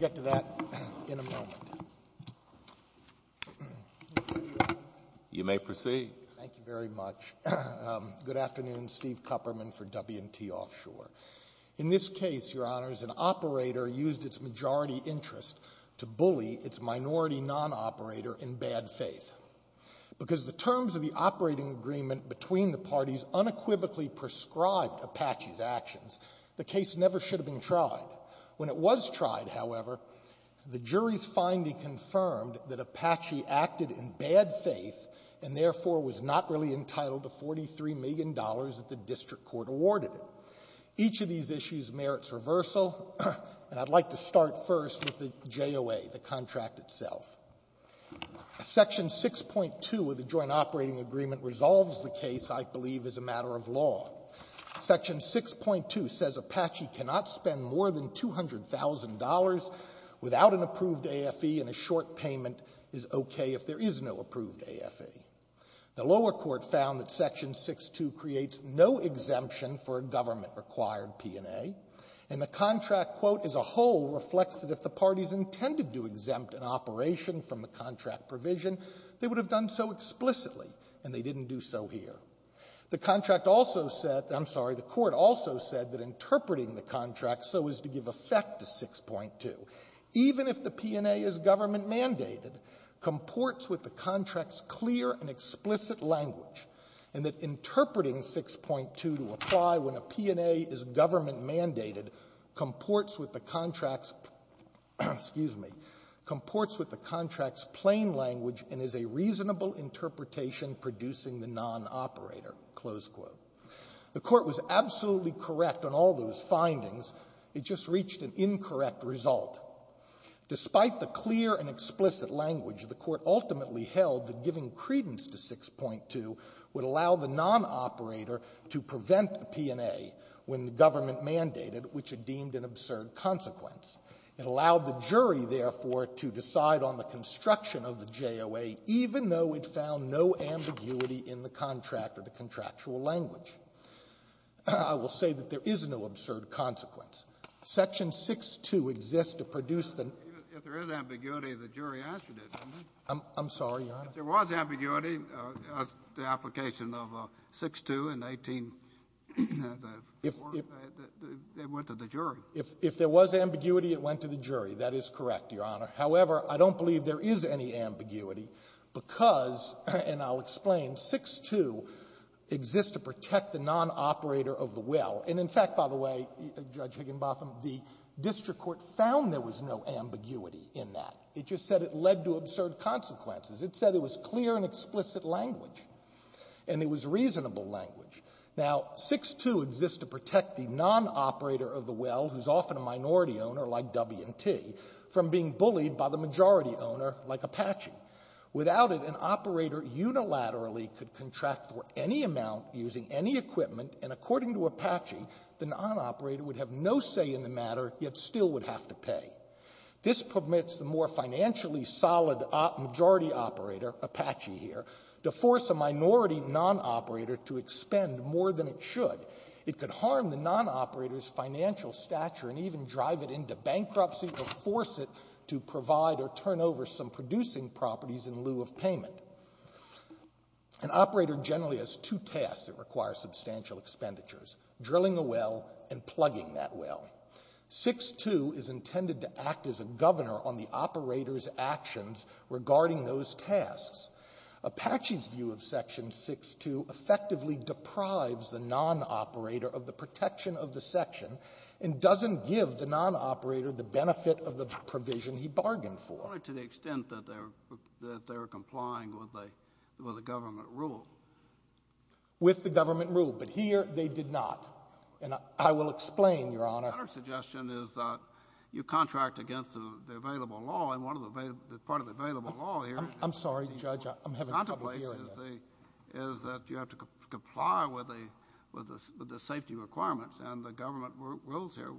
We'll get to that in a moment. You may proceed. Thank you very much. Good afternoon. Steve Kupperman for W & T Offshore. In this case, Your Honors, an operator used its majority interest to bully its minority non-operator in bad faith. Because the terms of the operating agreement between the parties unequivocally prescribed Apache's actions, the case never should have been tried. When it was tried, however, the jury's finding confirmed that Apache acted in bad faith and therefore was not really entitled to $43 million that the district court awarded it. Each of these issues merits reversal, and I'd like to start first with the JOA, the contract itself. Section 6.2 of the joint operating agreement resolves the case, I believe, as a matter of law. Section 6.2 says Apache cannot spend more than $200,000 without an approved AFE, and a short payment is okay if there is no approved AFE. The lower court found that Section 6.2 creates no exemption for a government-required P&A, and the contract, quote, as a whole, reflects that if the parties intended to exempt an operation from the contract provision, they would have done so explicitly, and they didn't do so here. The contract also said — I'm sorry, the court also said that interpreting the contract so as to give effect to 6.2, even if the P&A is government-mandated, comports with the contract's clear and explicit language, and that interpreting 6.2 to apply when a P&A is government-mandated comports with the contract's — excuse me — comports with the contract's plain language and is a reasonable interpretation producing the non-operator, close quote. The court was absolutely correct on all those findings. It just reached an incorrect result. Despite the clear and explicit language, the court ultimately held that giving credence to 6.2 would allow the non-operator to prevent a P&A when the government-mandated, which it deemed an absurd consequence. It allowed the jury, therefore, to decide on the construction of the JOA, even though it found no ambiguity in the contract or the contractual language. I will say that there is no absurd consequence. Section 6.2 exists to produce the — Kennedy. If there is ambiguity, the jury answered it, didn't it? Sotomayor. I'm sorry, Your Honor. Kennedy. If there was ambiguity, the application of 6.2 and 18, it went to the jury. Sotomayor. If there was ambiguity, it went to the jury. That is correct, Your Honor. However, I don't believe there is any ambiguity because, and I'll explain, 6.2 exists to protect the non-operator of the will. And in fact, by the way, Judge Higginbotham, the district court found there was no ambiguity in that. It just said it led to absurd consequences. It said it was clear and explicit language, and it was reasonable language. Now, 6.2 exists to protect the non-operator of the will, who's often a minority owner, like W&T, from being bullied by the majority owner, like Apache. Without it, an operator unilaterally could contract for any amount using any equipment, and according to Apache, the non-operator would have no say in the matter, yet still would have to pay. This permits the more financially solid majority operator, Apache here, to force a minority non-operator to expend more than it should. It could harm the non-operator's financial stature and even drive it into bankruptcy or force it to provide or turn over some producing properties in lieu of payment. An operator generally has two tasks that require substantial expenditures, drilling a well and plugging that well. 6.2 is intended to act as a governor on the operator's actions regarding those tasks. Apache's view of Section 6.2 effectively deprives the non-operator of the protection of the section and doesn't give the non-operator the benefit of the provision he bargained for. But only to the extent that they're complying with the government rule. With the government rule, but here they did not. And I will explain, Your Honor. My suggestion is that you contract against the available law, and one of the part of the available law here is that you have to comply with the safety requirements. And the government rules here.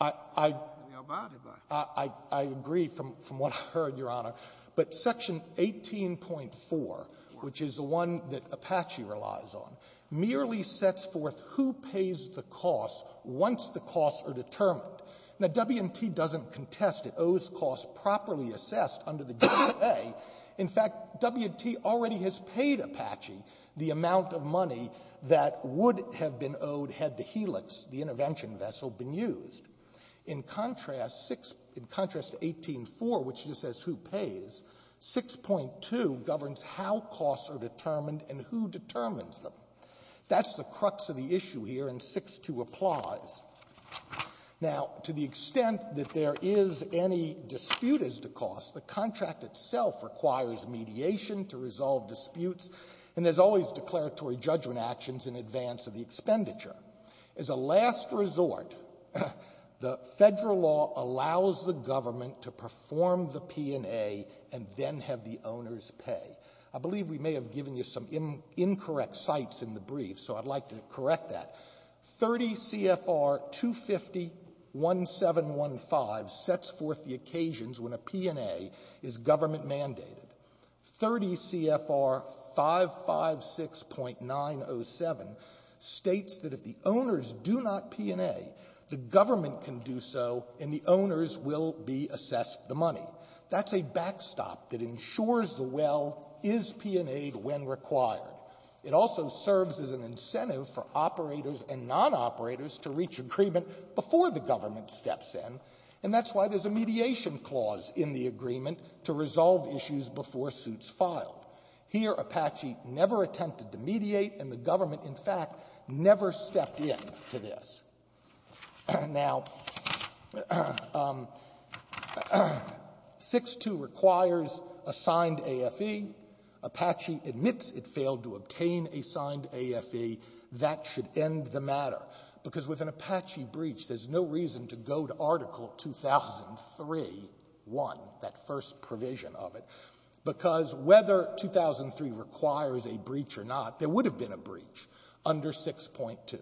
I agree from what I heard, Your Honor. But Section 18.4, which is the one that Apache relies on, merely sets forth who pays the costs once the costs are determined. Now, W&T doesn't contest it, owes costs properly assessed under the given way. In fact, W&T already has paid Apache the amount of money that would have been owed had the Helix, the intervention vessel, been used. In contrast to 18.4, which just says who pays, 6.2 governs how costs are determined and who determines them. That's the crux of the issue here, and 6.2 applies. Now, to the extent that there is any dispute as to cost, the contract itself requires mediation to resolve disputes, and there's always declaratory judgment actions in advance of the expenditure. As a last resort, the federal law allows the government to perform the P&A and then have the owners pay. I believe we may have given you some incorrect sites in the brief, so I'd like to correct that. 30 CFR 250.1715 sets forth the occasions when a P&A is government mandated. 30 CFR 556.907 states that if the owners do not P&A, the government can do so and the owners will be assessed the money. That's a backstop that ensures the well is P&A'd when required. It also serves as an incentive for operators and non-operators to reach agreement before the government steps in, and that's why there's a mediation clause in the agreement to resolve issues before suits filed. Here, Apache never attempted to mediate, and the government, in fact, never stepped in to this. Now, 6.2 requires a signed AFE. Apache admits it failed to obtain a signed AFE. That should end the matter, because with an Apache breach, there's no reason to go to Article 2003.1, that first provision of it, because whether 2003 requires a breach or not, there would have been a breach under 6.2.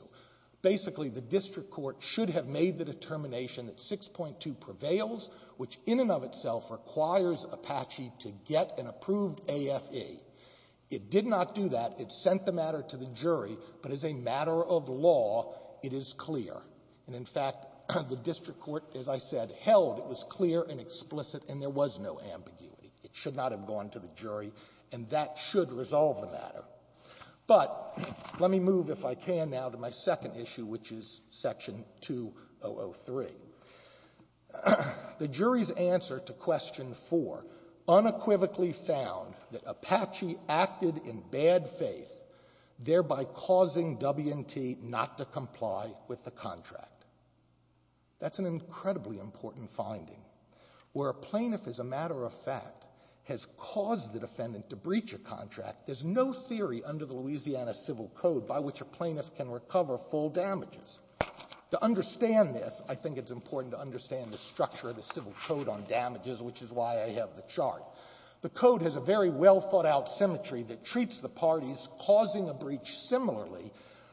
Basically, the district court should have made the determination that 6.2 prevails, which in and of itself requires Apache to get an approved AFE. It did not do that. It sent the matter to the jury, but as a matter of law, it is clear. And in fact, the district court, as I said, held it was clear and explicit and there was no ambiguity. It should not have gone to the jury, and that should resolve the matter. But let me move, if I can now, to my second issue, which is Section 2003. The jury's answer to Question 4 unequivocally found that Apache acted in bad faith, thereby causing W&T not to comply with the contract. That's an incredibly important finding. Where a plaintiff, as a matter of fact, has caused the defendant to breach a contract, there's no theory under the Louisiana Civil Code by which a plaintiff can recover full damages. To understand this, I think it's important to understand the structure of the Civil Code on damages, which is why I have the chart. The Code has a very well-thought-out symmetry that treats the parties causing a breach similarly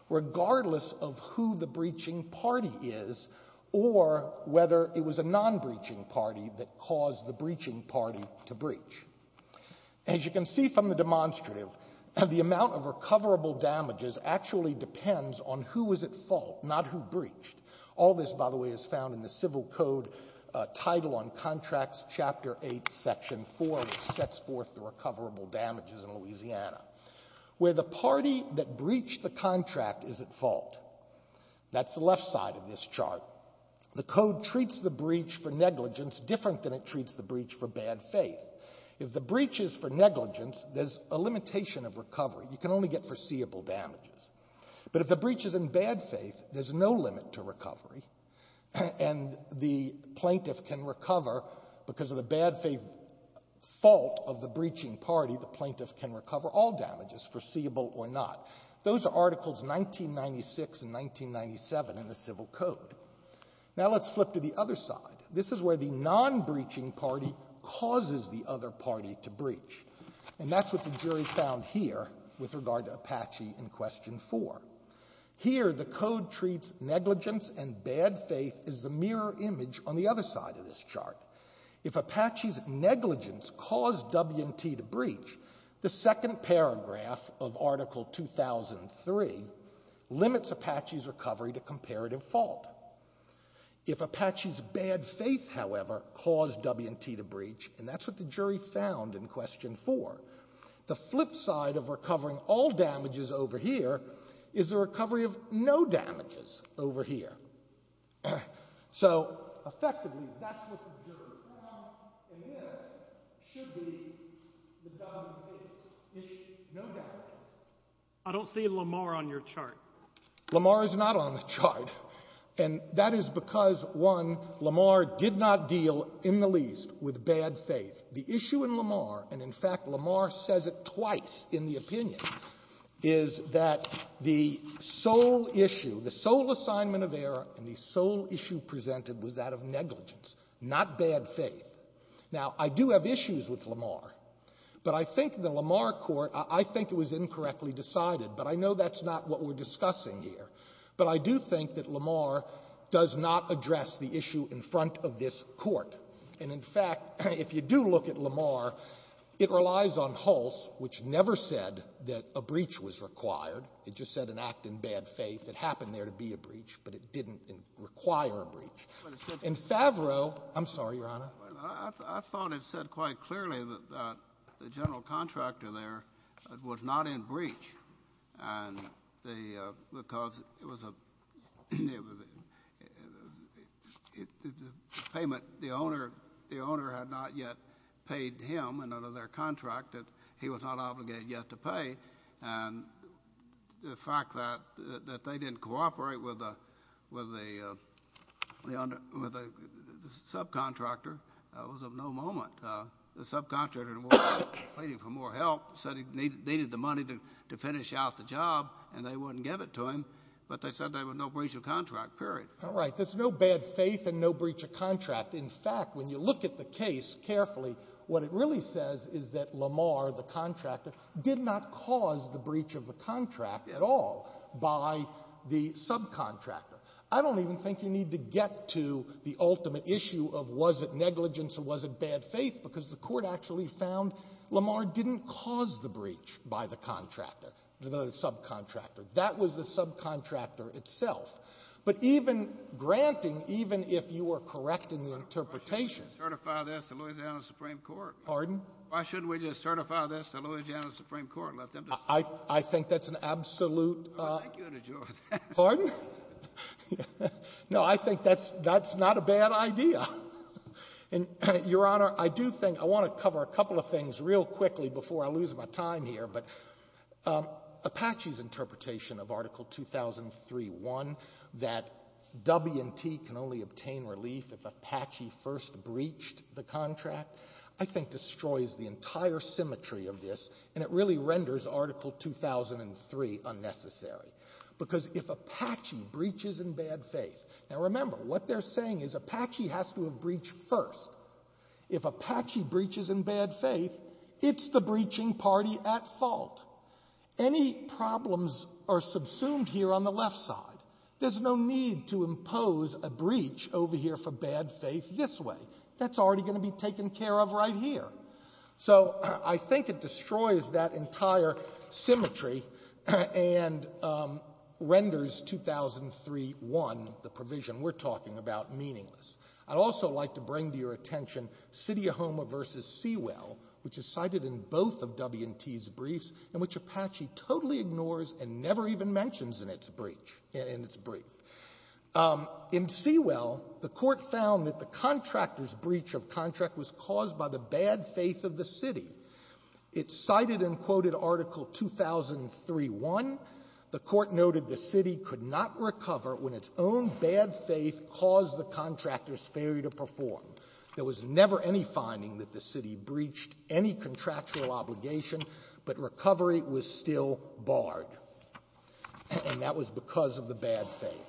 regardless of who the breaching party is or whether it was a non-breaching party that caused the breaching party to breach. As you can see from the demonstrative, the amount of recoverable damages actually depends on who was at fault, not who breached. All this, by the way, is found in the Civil Code Title on Contracts, Chapter 8, Section 4, which sets forth the recoverable damages in Louisiana. Where the party that breached the contract is at fault, that's the left side of this chart, the Code treats the breach for negligence different than it treats the breach for bad faith. If the breach is for negligence, there's a limitation of recovery. You can only get foreseeable damages. But if the breach is in bad faith, there's no limit to recovery, and the plaintiff can recover because of the bad faith fault of the breaching party, the plaintiff can recover all damages, foreseeable or not. Those are Articles 1996 and 1997 in the Civil Code. Now let's flip to the other side. This is where the non-breaching party causes the other party to breach. And that's what the jury found here with regard to Apache in Question 4. Here the Code treats negligence and bad faith as the mirror image on the other side of this chart. If Apache's negligence caused W&T to breach, the second paragraph of Article 2003 limits Apache's recovery to comparative fault. If Apache's bad faith, however, caused W&T to breach, and that's what the jury found in Question 4, the flip side of recovering all damages over here is the recovery of no damages over here. So effectively, that's what the jury found, and this should be the W&T issue, no damages. I don't see Lamar on your chart. Lamar is not on the chart, and that is because, one, Lamar did not deal, in the least, with bad faith. The issue in Lamar, and in fact, Lamar says it twice in the opinion, is that the sole issue, the sole assignment of error and the sole issue presented was that of negligence, not bad faith. Now, I do have issues with Lamar, but I think the Lamar court, I think it was incorrectly decided, but I know that's not what we're discussing here. But I do think that Lamar does not address the issue in front of this court. And in fact, if you do look at Lamar, it relies on Hulse, which never said that a breach was required. It just said an act in bad faith. It happened there to be a breach, but it didn't require a breach. And Favreau — I'm sorry, Your Honor. I thought it said quite clearly that the general contractor there was not in breach, and because it was a payment the owner had not yet paid him under their contract that he was not obligated yet to pay. And the fact that they didn't cooperate with the subcontractor was of no moment. The subcontractor, waiting for more help, said he needed the money to finish out the job and they wouldn't give it to him, but they said there was no breach of contract, period. All right. There's no bad faith and no breach of contract. In fact, when you look at the case carefully, what it really says is that Lamar, the contractor, did not cause the breach of the contract at all by the subcontractor. I don't even think you need to get to the ultimate issue of was it negligence or was it bad faith, because the Court actually found Lamar didn't cause the breach by the contractor, the subcontractor. That was the subcontractor itself. But even granting, even if you are correct in the interpretation — Why shouldn't we certify this to Louisiana Supreme Court? Pardon? Why shouldn't we just certify this to Louisiana Supreme Court and let them decide? I think that's an absolute — Thank you and adjourn. Pardon? No, I think that's not a bad idea. And, Your Honor, I do think — I want to cover a couple of things real quickly before I lose my time here, but Apache's interpretation of Article 2003-1, that W&T can only obtain relief if Apache first breached the contract, I think destroys the entire symmetry of this and it really renders Article 2003 unnecessary, because if Apache breaches in bad faith — Now, remember, what they're saying is Apache has to have breached first. If Apache breaches in bad faith, it's the breaching party at fault. Any problems are subsumed here on the left side. There's no need to impose a breach over here for bad faith this way. That's already going to be taken care of right here. So I think it destroys that entire symmetry and renders 2003-1, the provision we're talking about, meaningless. I'd also like to bring to your attention Sidi Ahoma v. Sewell, which is cited in both of W&T's briefs, and which Apache totally ignores and never even mentions in its brief. In Sewell, the Court found that the contractor's breach of contract was caused by the bad faith of the city. It cited in quoted Article 2003-1, the Court noted the city could not recover when its own bad faith caused the contractor's failure to perform. There was never any finding that the city breached any contractual obligation, but recovery was still barred. And that was because of the bad faith.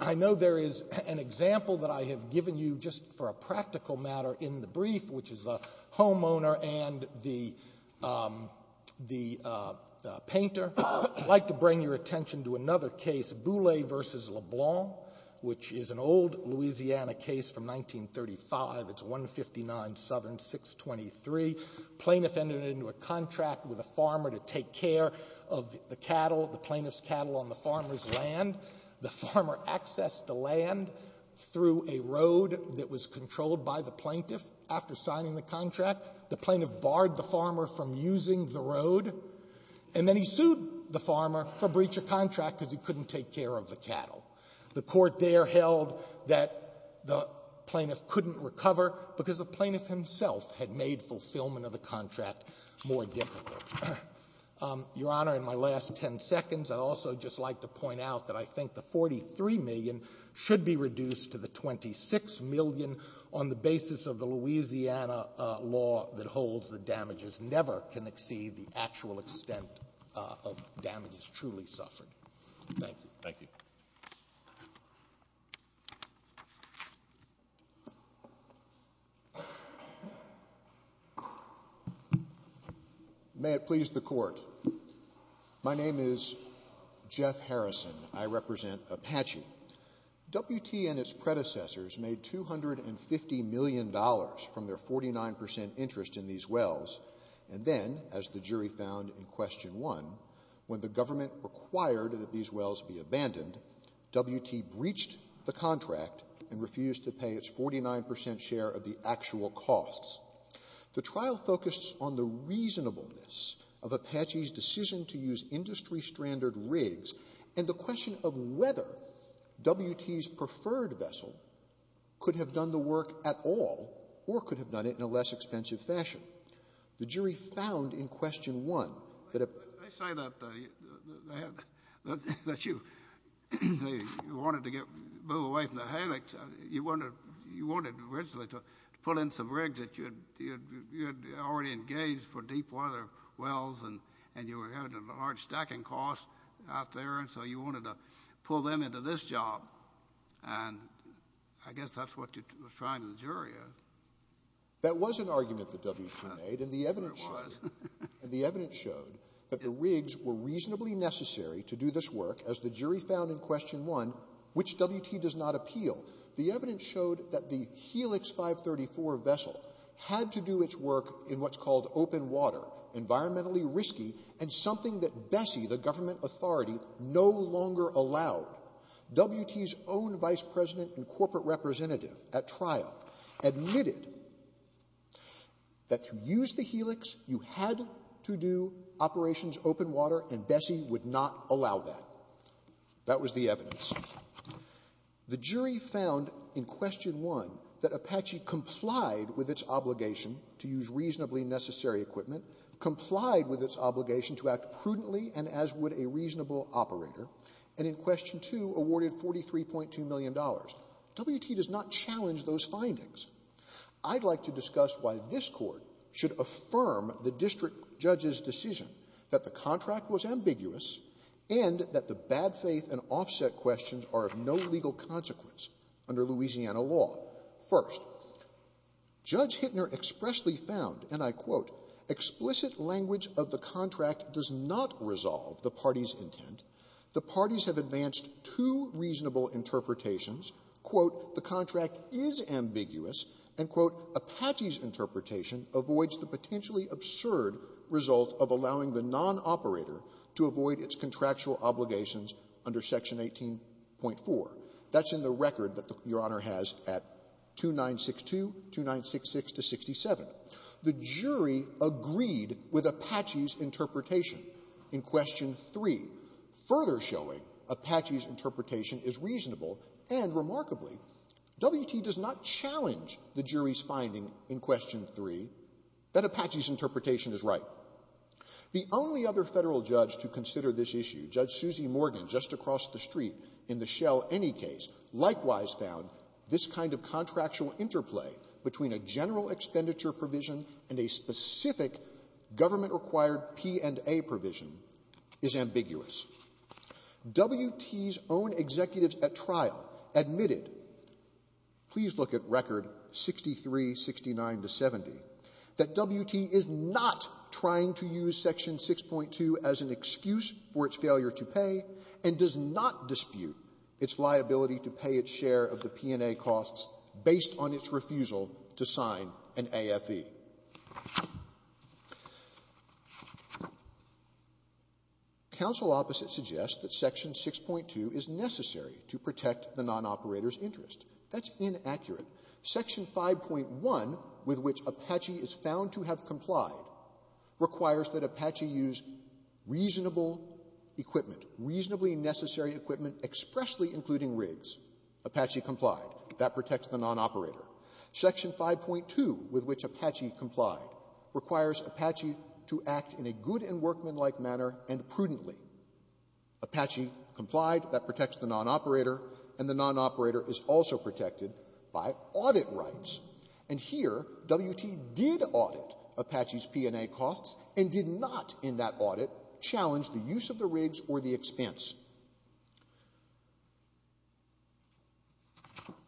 I know there is an example that I have given you just for a practical matter in the brief, which is the homeowner and the painter. I'd like to bring your attention to another case, Boullée v. LeBlanc, which is an old Louisiana case from 1935. It's 159 Southern 623. Plaintiff entered into a contract with a farmer to take care of the cattle, the plaintiff's cattle on the farmer's land. The farmer accessed the land through a road that was controlled by the plaintiff after signing the contract. The plaintiff barred the farmer from using the road. And then he sued the farmer for breach of contract because he couldn't take care of the cattle. The Court there held that the plaintiff couldn't recover because the plaintiff himself had made fulfillment of the contract more difficult. Your Honor, in my last ten seconds, I'd also just like to point out that I think the 43 million should be reduced to the 26 million on the basis of the Louisiana law that holds that damages never can exceed the actual damage. The actual extent of damages truly suffered. Thank you. Thank you. May it please the Court. My name is Jeff Harrison. I represent Apache. WT and its predecessors made $250 million from their 49% interest in these wells. And then, as the jury found in Question 1, when the government required that these wells be abandoned, WT breached the contract and refused to pay its 49% share of the actual costs. The trial focused on the reasonableness of Apache's decision to use industry-stranded rigs and the question of whether WT's preferred vessel could have done the work at all or could have done it in a less expensive fashion. The jury found in Question 1 that a — There it was. you had to do operations open water, and Bessie would not allow that. That was the evidence. The jury found in Question 1 that Apache complied with its obligation to use reasonably necessary equipment, complied with its obligation to act prudently and as would a reasonable operator, and in Question 2 awarded $43.2 million. WT does not challenge those findings. I'd like to discuss why this Court should affirm the district judge's decision that the contract was ambiguous and that the bad faith and offset questions are of no legal consequence under Louisiana law. First, Judge Hittner expressly found, and I quote, explicit language of the contract does not resolve the party's intent. The parties have advanced two reasonable interpretations. Quote, the contract is ambiguous. And, quote, Apache's interpretation avoids the potentially absurd result of allowing the nonoperator to avoid its contractual obligations under Section 18.4. That's in the record that Your Honor has at 2962, 2966 to 67. The jury agreed with further showing Apache's interpretation is reasonable and, remarkably, WT does not challenge the jury's finding in Question 3 that Apache's interpretation is right. The only other Federal judge to consider this issue, Judge Susie Morgan, just across the street in the shell any case, likewise found this kind of contractual interplay between a general expenditure provision and a specific government-required P&A provision is ambiguous. WT's own executives at trial admitted, please look at record 63, 69 to 70, that WT is not trying to use Section 6.2 as an excuse for its failure to pay and does not dispute its liability to pay its share of the P&A costs based on its refusal to sign an AFE. Counsel opposite suggests that Section 6.2 is necessary to protect the nonoperator's interest. That's inaccurate. Section 5.1, with which Apache is found to have complied, requires that Apache use reasonable equipment, reasonably necessary equipment expressly including rigs. Apache complied. That protects the nonoperator. Section 5.2, with which Apache complied, requires Apache to act in a good and workmanlike manner and prudently. Apache complied. That protects the nonoperator, and the nonoperator is also protected by audit rights. And here, WT did audit Apache's P&A costs and did not in that audit challenge the use of the rigs or the expense.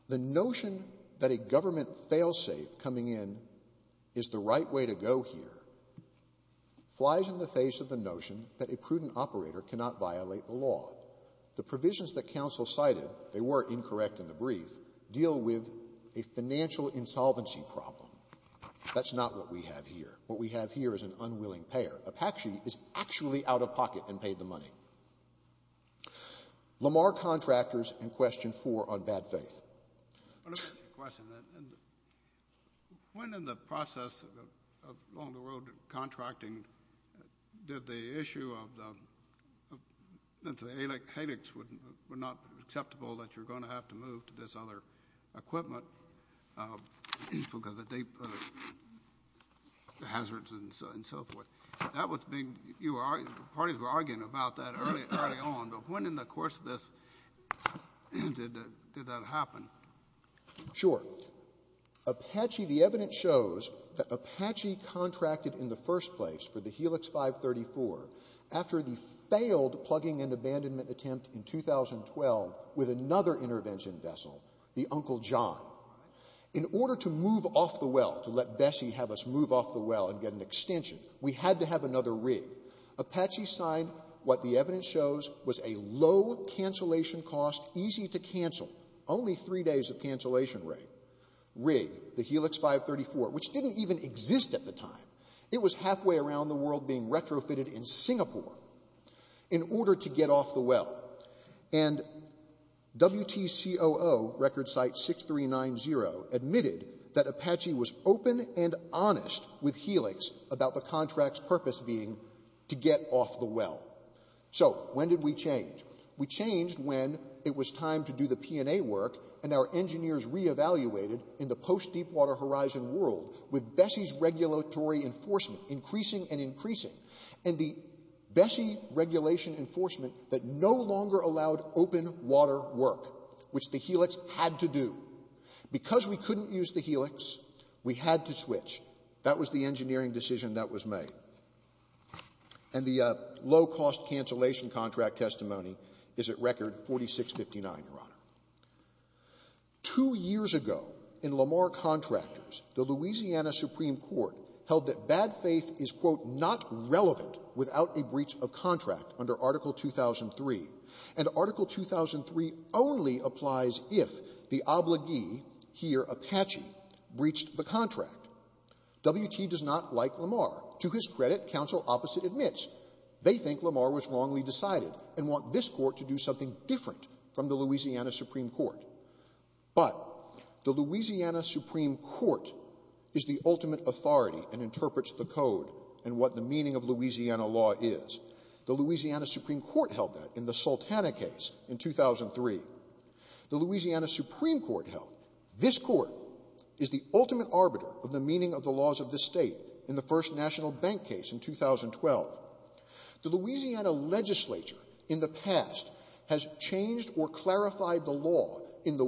The notion that a government fail-safe coming in is the right way to go here flies in the face of the notion that a prudent operator cannot violate the law. The provisions that counsel cited, they were incorrect in the brief, deal with a financial insolvency problem. That's not what we have here. What we have here is an unwilling payer. Apache is actually out of pocket and paid the money. Lamar Contractors in Question 4 on bad faith. Let me ask you a question. When in the process of along the road contracting did the issue of the helix not be acceptable that you're going to have to move to this other equipment because of the deep hazards and so forth? Parties were arguing about that early on, but when in the course of this did that happen? Sure. Apache, the evidence shows that Apache contracted in the first place for the helix 534 after the failed plugging and abandonment attempt in 2012 with another intervention vessel, the Uncle John. In order to move off the well, to let Bessie have us move off the well and get an extension, we had to have another rig. Apache signed what the evidence shows was a low cancellation cost, easy to cancel, only three days of cancellation rate, rig, the helix 534, which didn't even exist at the time. It was halfway around the world being retrofitted in Singapore in order to get off the well. And WTCOO record site 6390 admitted that Apache was open and honest with helix about the contract's purpose being to get off the well. So when did we change? We changed when it was time to do the P&A work and our engineers re-evaluated in the post-Deepwater Horizon world with Bessie's regulatory enforcement increasing and increasing. And the Bessie regulation enforcement that no longer allowed open water work, which the helix had to do. Because we couldn't use the helix, we had to switch. That was the engineering decision that was made. And the low-cost cancellation contract testimony is at record 4659, Your Honor. Two years ago in Lamar Contractors, the Louisiana Supreme Court held that bad faith is, quote, not relevant without a breach of contract under Article 2003. And Article 2003 only applies if the obligee here, Apache, breached the contract. WT does not like Lamar. To his credit, counsel opposite admits they think Lamar was wrongly decided and want this court to do something different from the Louisiana Supreme Court. But the Louisiana Supreme Court is the ultimate authority and interprets the code and what the meaning of Louisiana law is. The Louisiana Supreme Court held that in the Sultana case in 2003. The Louisiana Supreme Court held this court is the ultimate arbiter of the meaning of the laws of this State in the first national bank case in 2012. The Louisiana legislature in the past has changed or clarified the law in the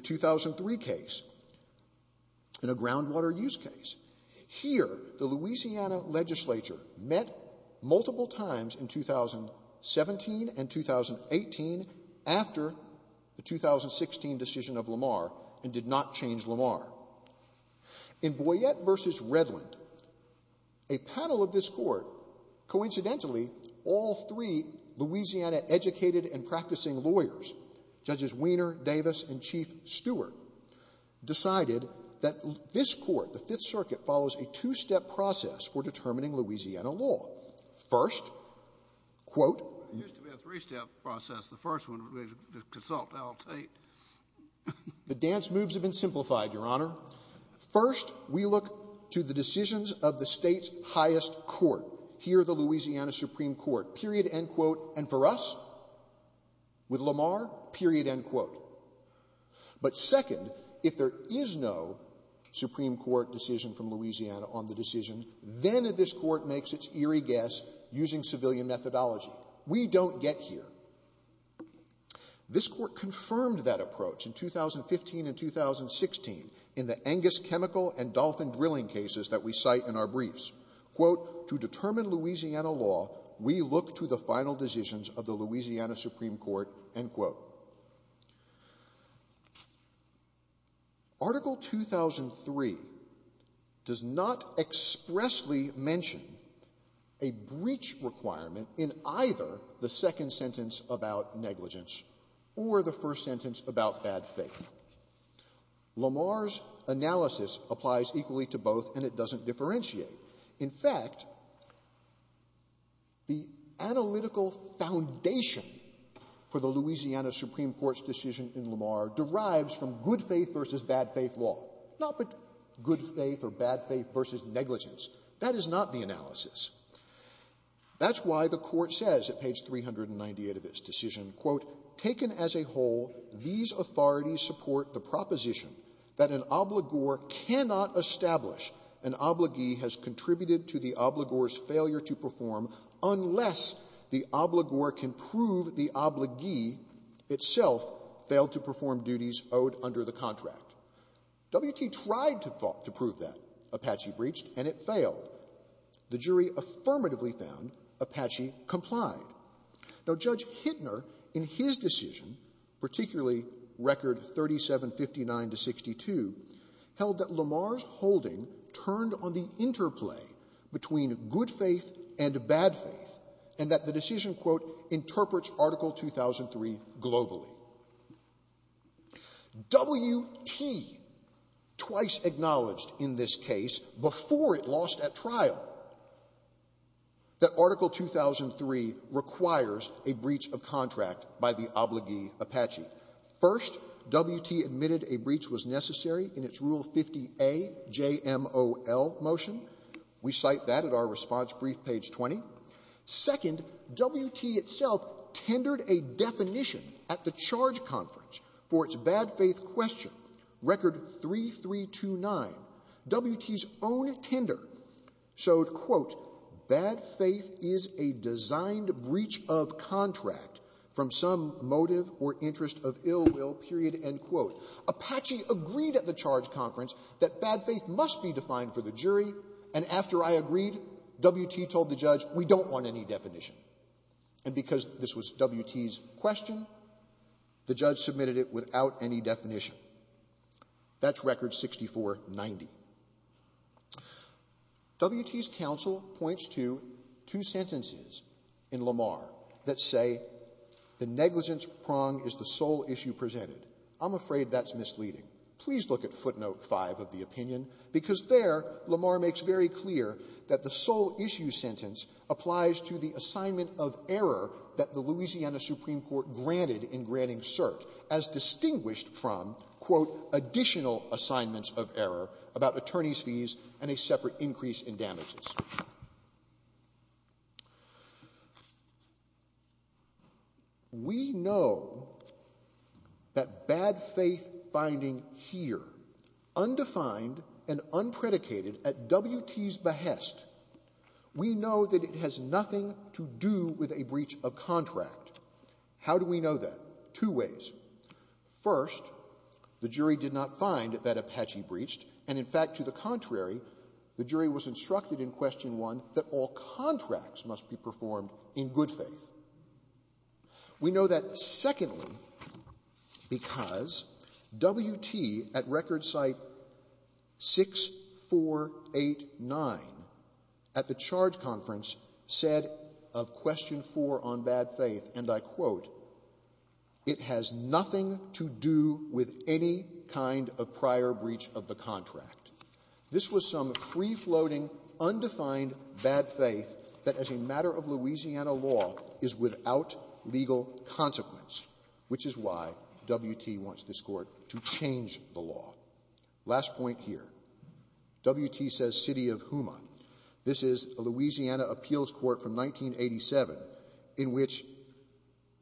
2003 case in a groundwater use case. Here, the Louisiana legislature met multiple times in 2017 and 2018 after the 2016 decision of Lamar and did not change Lamar. In Boyette v. Redland, a panel of this court, coincidentally, all three Louisiana educated and practicing lawyers, Judges Weiner, Davis, and Chief Stewart, decided that this court, the Fifth Circuit, follows a two-step process for determining Louisiana law. First, quote. It used to be a three-step process. The first one would be to consult Al Tate. The dance moves have been simplified, Your Honor. First, we look to the decisions of the State's highest court, here the Louisiana Supreme Court, period, end quote, and for us, with Lamar, period, end quote. But second, if there is no Supreme Court decision from Louisiana on the decision, then this court makes its eerie guess using civilian methodology. We don't get here. This court confirmed that approach in 2015 and 2016 in the Angus chemical and alcohol. We look to the final decisions of the Louisiana Supreme Court, end quote. Article 2003 does not expressly mention a breach requirement in either the second sentence about negligence or the first sentence about bad faith. Lamar's analysis applies equally to both, and it doesn't differentiate. In fact, the analytical foundation for the Louisiana Supreme Court's decision in Lamar derives from good faith versus bad faith law, not good faith or bad faith versus negligence. That is not the analysis. That's why the Court says at page 398 of its decision, quote, taken as a whole, these authorities support the proposition that an obligor cannot establish an obligee has contributed to the obligor's failure to perform unless the obligor can prove the obligee itself failed to perform duties owed under the contract. W.T. tried to prove that. Apache breached, and it failed. The jury affirmatively found Apache complied. Now, Judge Hittner, in his decision, particularly record 3759-62, held that Lamar's holding turned on the interplay between good faith and bad faith and that the decision, quote, interprets Article 2003 globally. W.T. twice acknowledged in this case, before it lost at trial, that Article 2003 requires a breach of contract by the obligee Apache. First, W.T. admitted a breach was necessary in its Rule 50A JMOL motion. We cite that at our response brief, page 20. Second, W.T. itself tendered a definition at the charge conference for its bad faith question, record 3329. W.T.'s own tender showed, quote, bad faith is a designed breach of contract from some motive or interest of ill will, period, end quote. Apache agreed at the charge conference that bad faith must be defined for the jury, and after I agreed, W.T. told the judge we don't want any definition. And because this was W.T.'s question, the judge submitted it without any definition. That's record 6490. W.T.'s counsel points to two sentences in Lamar that say the negligence prong is the sole issue presented. I'm afraid that's misleading. Please look at footnote 5 of the opinion, because there Lamar makes very clear that the sole issue sentence applies to the assignment of error that the Louisiana Supreme Court granted in granting cert, as distinguished from, quote, additional assignments of error about attorney's fees and a separate increase in damages. We know that bad faith finding here, undefined and unpredicated at W.T.'s behest, we know that it has nothing to do with a breach of contract. How do we know that? Two ways. First, the jury did not find that Apache breached, and in fact, to the question 1, that all contracts must be performed in good faith. We know that, secondly, because W.T. at record site 6489 at the charge conference said of question 4 on bad faith, and I quote, it has nothing to do with any kind of prior breach of the contract. This was some free-floating, undefined bad faith that as a matter of Louisiana law is without legal consequence, which is why W.T. wants this Court to change the law. Last point here. W.T. says city of Houma. This is a Louisiana appeals court from 1987 in which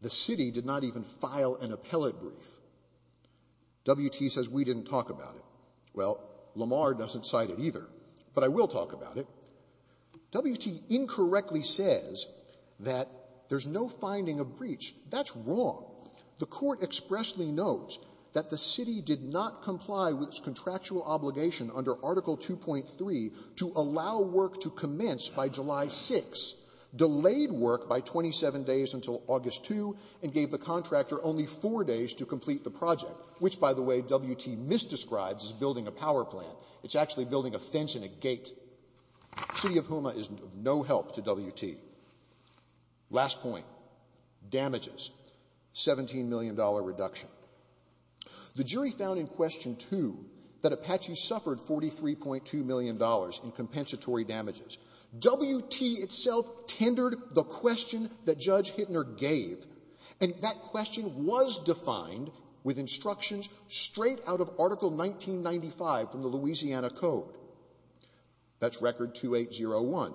the city did not even file an appellate brief. W.T. says we didn't talk about it. Well, Lamar doesn't cite it either, but I will talk about it. W.T. incorrectly says that there's no finding of breach. That's wrong. The Court expressly notes that the city did not comply with its contractual obligation under Article 2.3 to allow work to commence by July 6, delayed work by 27 days until August 2, and gave the contractor only four days to complete the project, which, by the way, W.T. misdescribes as building a power plant. It's actually building a fence and a gate. City of Houma is of no help to W.T. Last point, damages, $17 million reduction. The jury found in question 2 that Apache suffered $43.2 million in compensatory damages. W.T. itself tendered the question that Judge Hittner gave, and that question was defined with instructions straight out of Article 1995 from the Louisiana Code. That's Record 2801.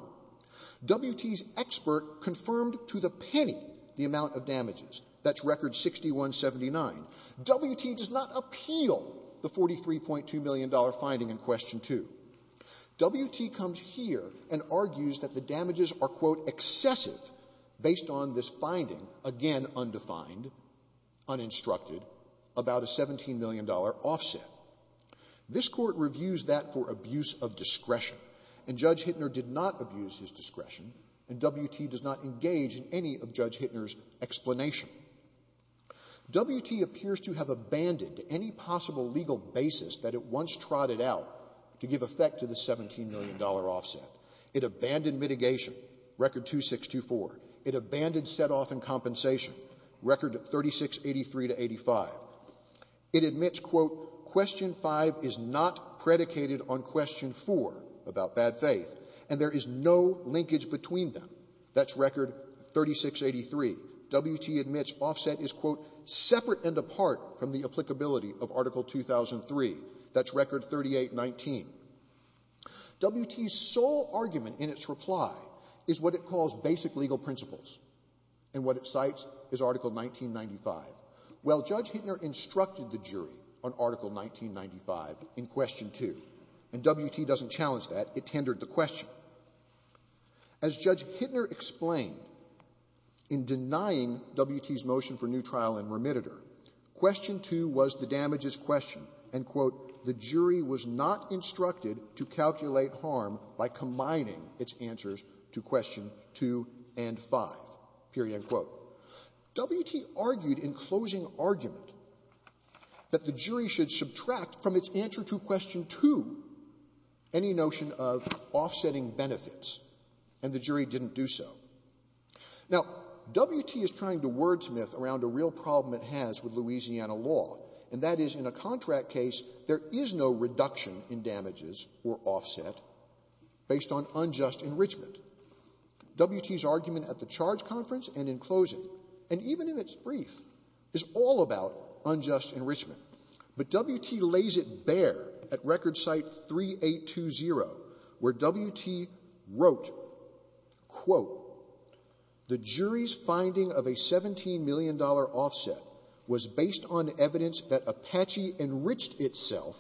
W.T.'s expert confirmed to the penny the amount of damages. That's Record 6179. W.T. does not appeal the $43.2 million finding in question 2. W.T. comes here and argues that the damages are, quote, excessive based on this finding, again undefined, uninstructed, about a $17 million offset. This Court reviews that for abuse of discretion, and Judge Hittner did not abuse his discretion, and W.T. does not engage in any of Judge Hittner's explanation. W.T. appears to have abandoned any possible legal basis that it once trotted out to give effect to the $17 million offset. It abandoned mitigation, Record 2624. It abandoned setoff and compensation, Record 3683 to 85. It admits, quote, question 5 is not predicated on question 4 about bad faith, and there is no linkage between them. That's Record 3683. W.T. admits offset is, quote, separate and apart from the applicability of Article 2003. That's Record 3819. W.T.'s sole argument in its reply is what it calls basic legal principles, and what it cites is Article 1995. Well, Judge Hittner instructed the jury on Article 1995 in question 2, and W.T. doesn't challenge that. It tendered the question. As Judge Hittner explained in denying W.T.'s motion for the jury was not instructed to calculate harm by combining its answers to question 2 and 5, period, end quote. W.T. argued in closing argument that the jury should subtract from its answer to question 2 any notion of offsetting benefits, and the jury didn't do so. Now, W.T. is trying to wordsmith around a real problem it has with W.T. and says there is no reduction in damages or offset based on unjust enrichment. W.T.'s argument at the charge conference and in closing, and even in its brief, is all about unjust enrichment. But W.T. lays it bare at Record Cite 3820, where W.T. wrote, quote, the jury's finding of a $17 million offset was based on evidence that Apache enriched itself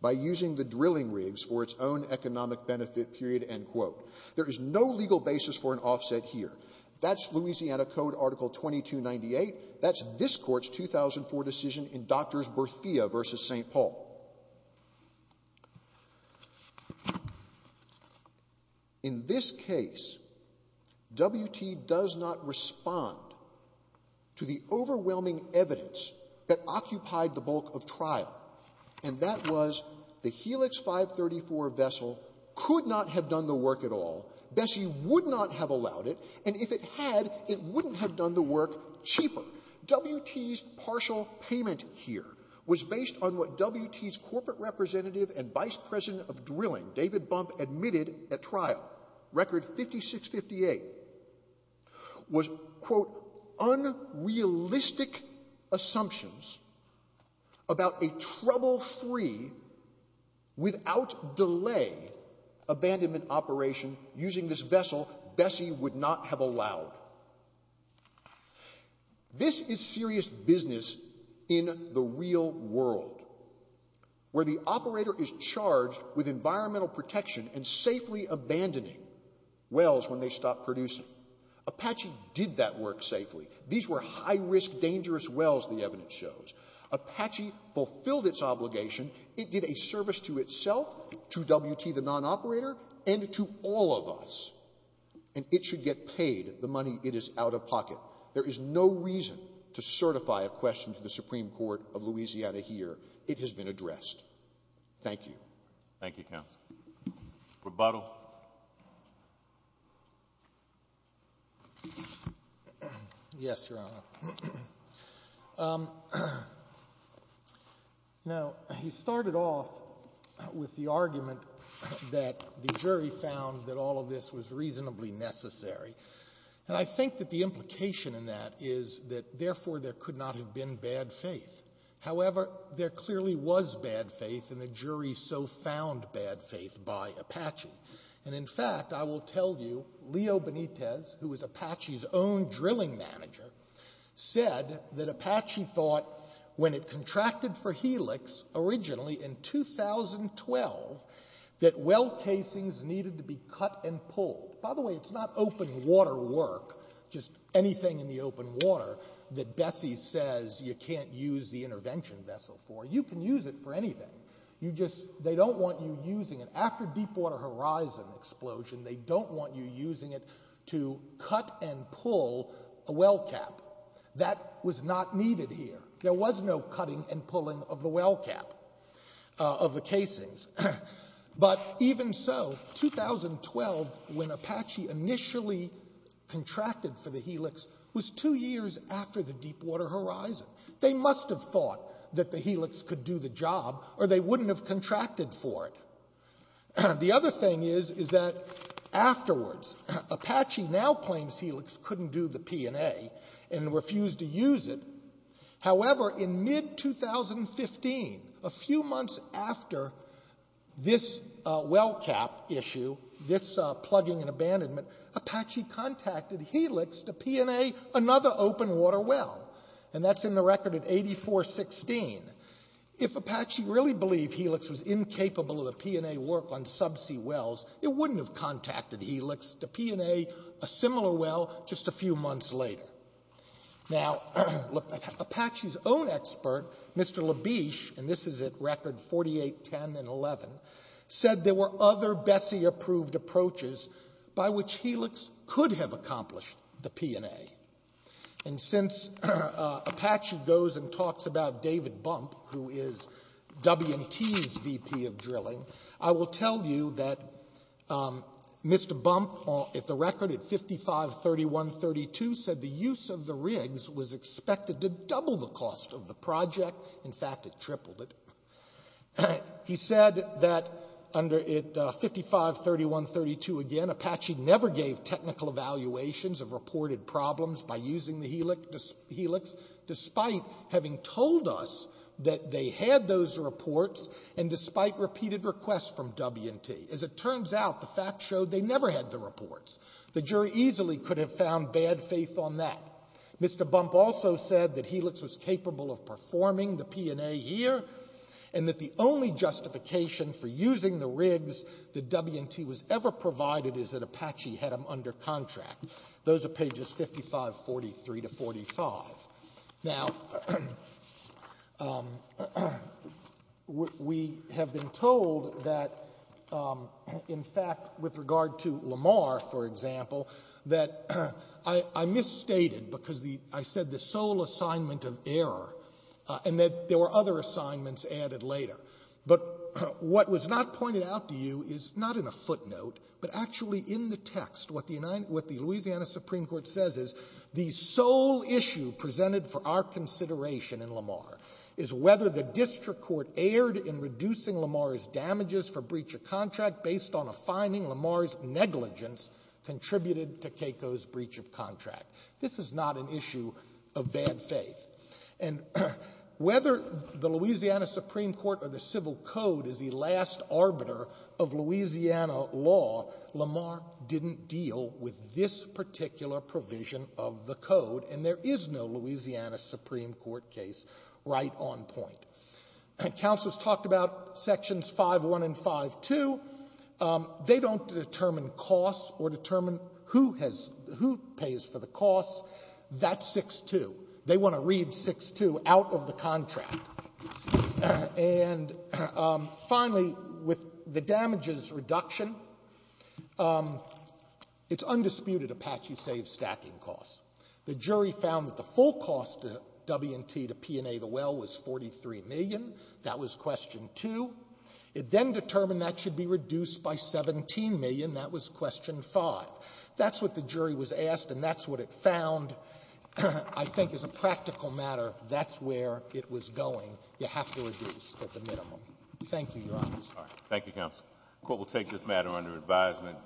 by using the drilling rigs for its own economic benefit, period, end quote. There is no legal basis for an offset here. That's Louisiana Code Article 2298. That's this Court's 2004 decision in Drs. Berthea v. St. Paul. In this case, W.T. does not respond to the overwhelming evidence that occupied the bulk of trial, and that was the Helix 534 vessel could not have done the work at all, Bessie would not have allowed it, and if it had, it wouldn't have done the work cheaper. W.T.'s partial payment here was based on what W.T.'s corporate representative and vice president of drilling, David Bump, admitted at trial, Record Cite 5658, was, quote, unrealistic assumptions about a trouble-free, without delay, abandonment operation using this vessel Bessie would not have allowed. This is serious business in the real world, where the operator is charged with environmental protection and safely abandoning wells when they stop producing. Apache did that work safely. These were high-risk, dangerous wells, the evidence shows. Apache fulfilled its obligation. It did a service to itself, to W.T., the nonoperator, and to all of us, and it should get paid the money it is out of pocket. There is no reason to certify a question to the Supreme Court of Louisiana here. It has been addressed. Thank you. Thank you, counsel. Rebuttal. Yes, Your Honor. Now, you started off with the argument that the jury found that all of this was reasonably necessary, and I think that the implication in that is that, therefore, there could not have been bad faith. However, there clearly was bad faith and the jury so found bad faith by Apache. And in fact, I will tell you, Leo Benitez, who was Apache's own drilling manager, said that Apache thought, when it contracted for Helix originally in 2012, that well casings needed to be cut and pulled. By the way, it's not open water work, just anything in the open water, that Bessie says you can't use the intervention vessel for. You can use it for anything. You just, they don't want you using it. After Deepwater Horizon explosion, they don't want you using it to cut and pull a well cap. That was not needed here. There was no cutting and pulling of the well cap, of the casings. But even so, 2012, when Apache initially contracted for the Helix, was two years after the Deepwater Horizon. They must have thought that the Helix could do the job or they wouldn't have contracted for it. The other thing is, is that afterwards, Apache now claims Helix couldn't do the P&A and refused to use it. However, in mid-2015, a few months after this well cap issue, this plugging and abandonment, Apache contacted Helix to P&A another open water well. And that's in the record at 8416. If Apache really believed Helix was incapable of the P&A work on subsea wells, it wouldn't have contacted Helix to P&A a similar well just a few months later. Now, Apache's own expert, Mr. Labiche, and this is at record 4810 and 11, said there were other Bessie-approved approaches by which Helix could have accomplished the P&A. And since Apache goes and talks about David Bump, who is W&T's VP of drilling, I will tell you that Mr. Bump, at the record at 5531.32, said the use of the rigs was expected to double the cost of the project. In fact, it tripled it. He said that under 5531.32, again, Apache never gave technical evaluations of reported problems by using the Helix, despite having told us that they had those reports and despite repeated requests from W&T. As it turns out, the fact showed they never had the reports. The jury easily could have found bad faith on that. Mr. Bump also said that Helix was capable of performing the P&A here, and that the only justification for using the rigs that W&T was ever provided is that Apache had them under contract. Those are pages 5543 to 45. Now, we have been told that, in fact, with regard to Lamar, for example, that I misstated because I said the sole assignment of error, and that there were other assignments added later. But what was not pointed out to you is not in a footnote, but actually in the text, what the Louisiana Supreme Court says is the sole issue presented for our consideration in Lamar is whether the district court erred in reducing Lamar's damages for breach of contract based on a finding Lamar's negligence contributed to Keiko's breach of contract. This is not an issue of bad faith. And whether the Louisiana Supreme Court or the civil code is the last arbiter of Louisiana law, Lamar didn't deal with this particular provision of the code, and there is no Louisiana Supreme Court case right on point. Counsel has talked about sections 5-1 and 5-2. They don't determine costs or determine who has — who pays for the costs. That's 6-2. They want to read 6-2 out of the contract. And finally, with the damages reduction, it's undisputed Apache saved stacking costs. The jury found that the full cost to W&T to P&A the well was $43 million. That was question 2. It then determined that should be reduced by $17 million. That was question 5. That's what the jury was asked, and that's what it found. I think as a practical matter, that's where it was going. You have to reduce at the minimum. Thank you, Your Honors. Thank you, counsel. The Court will take this matter under advisement.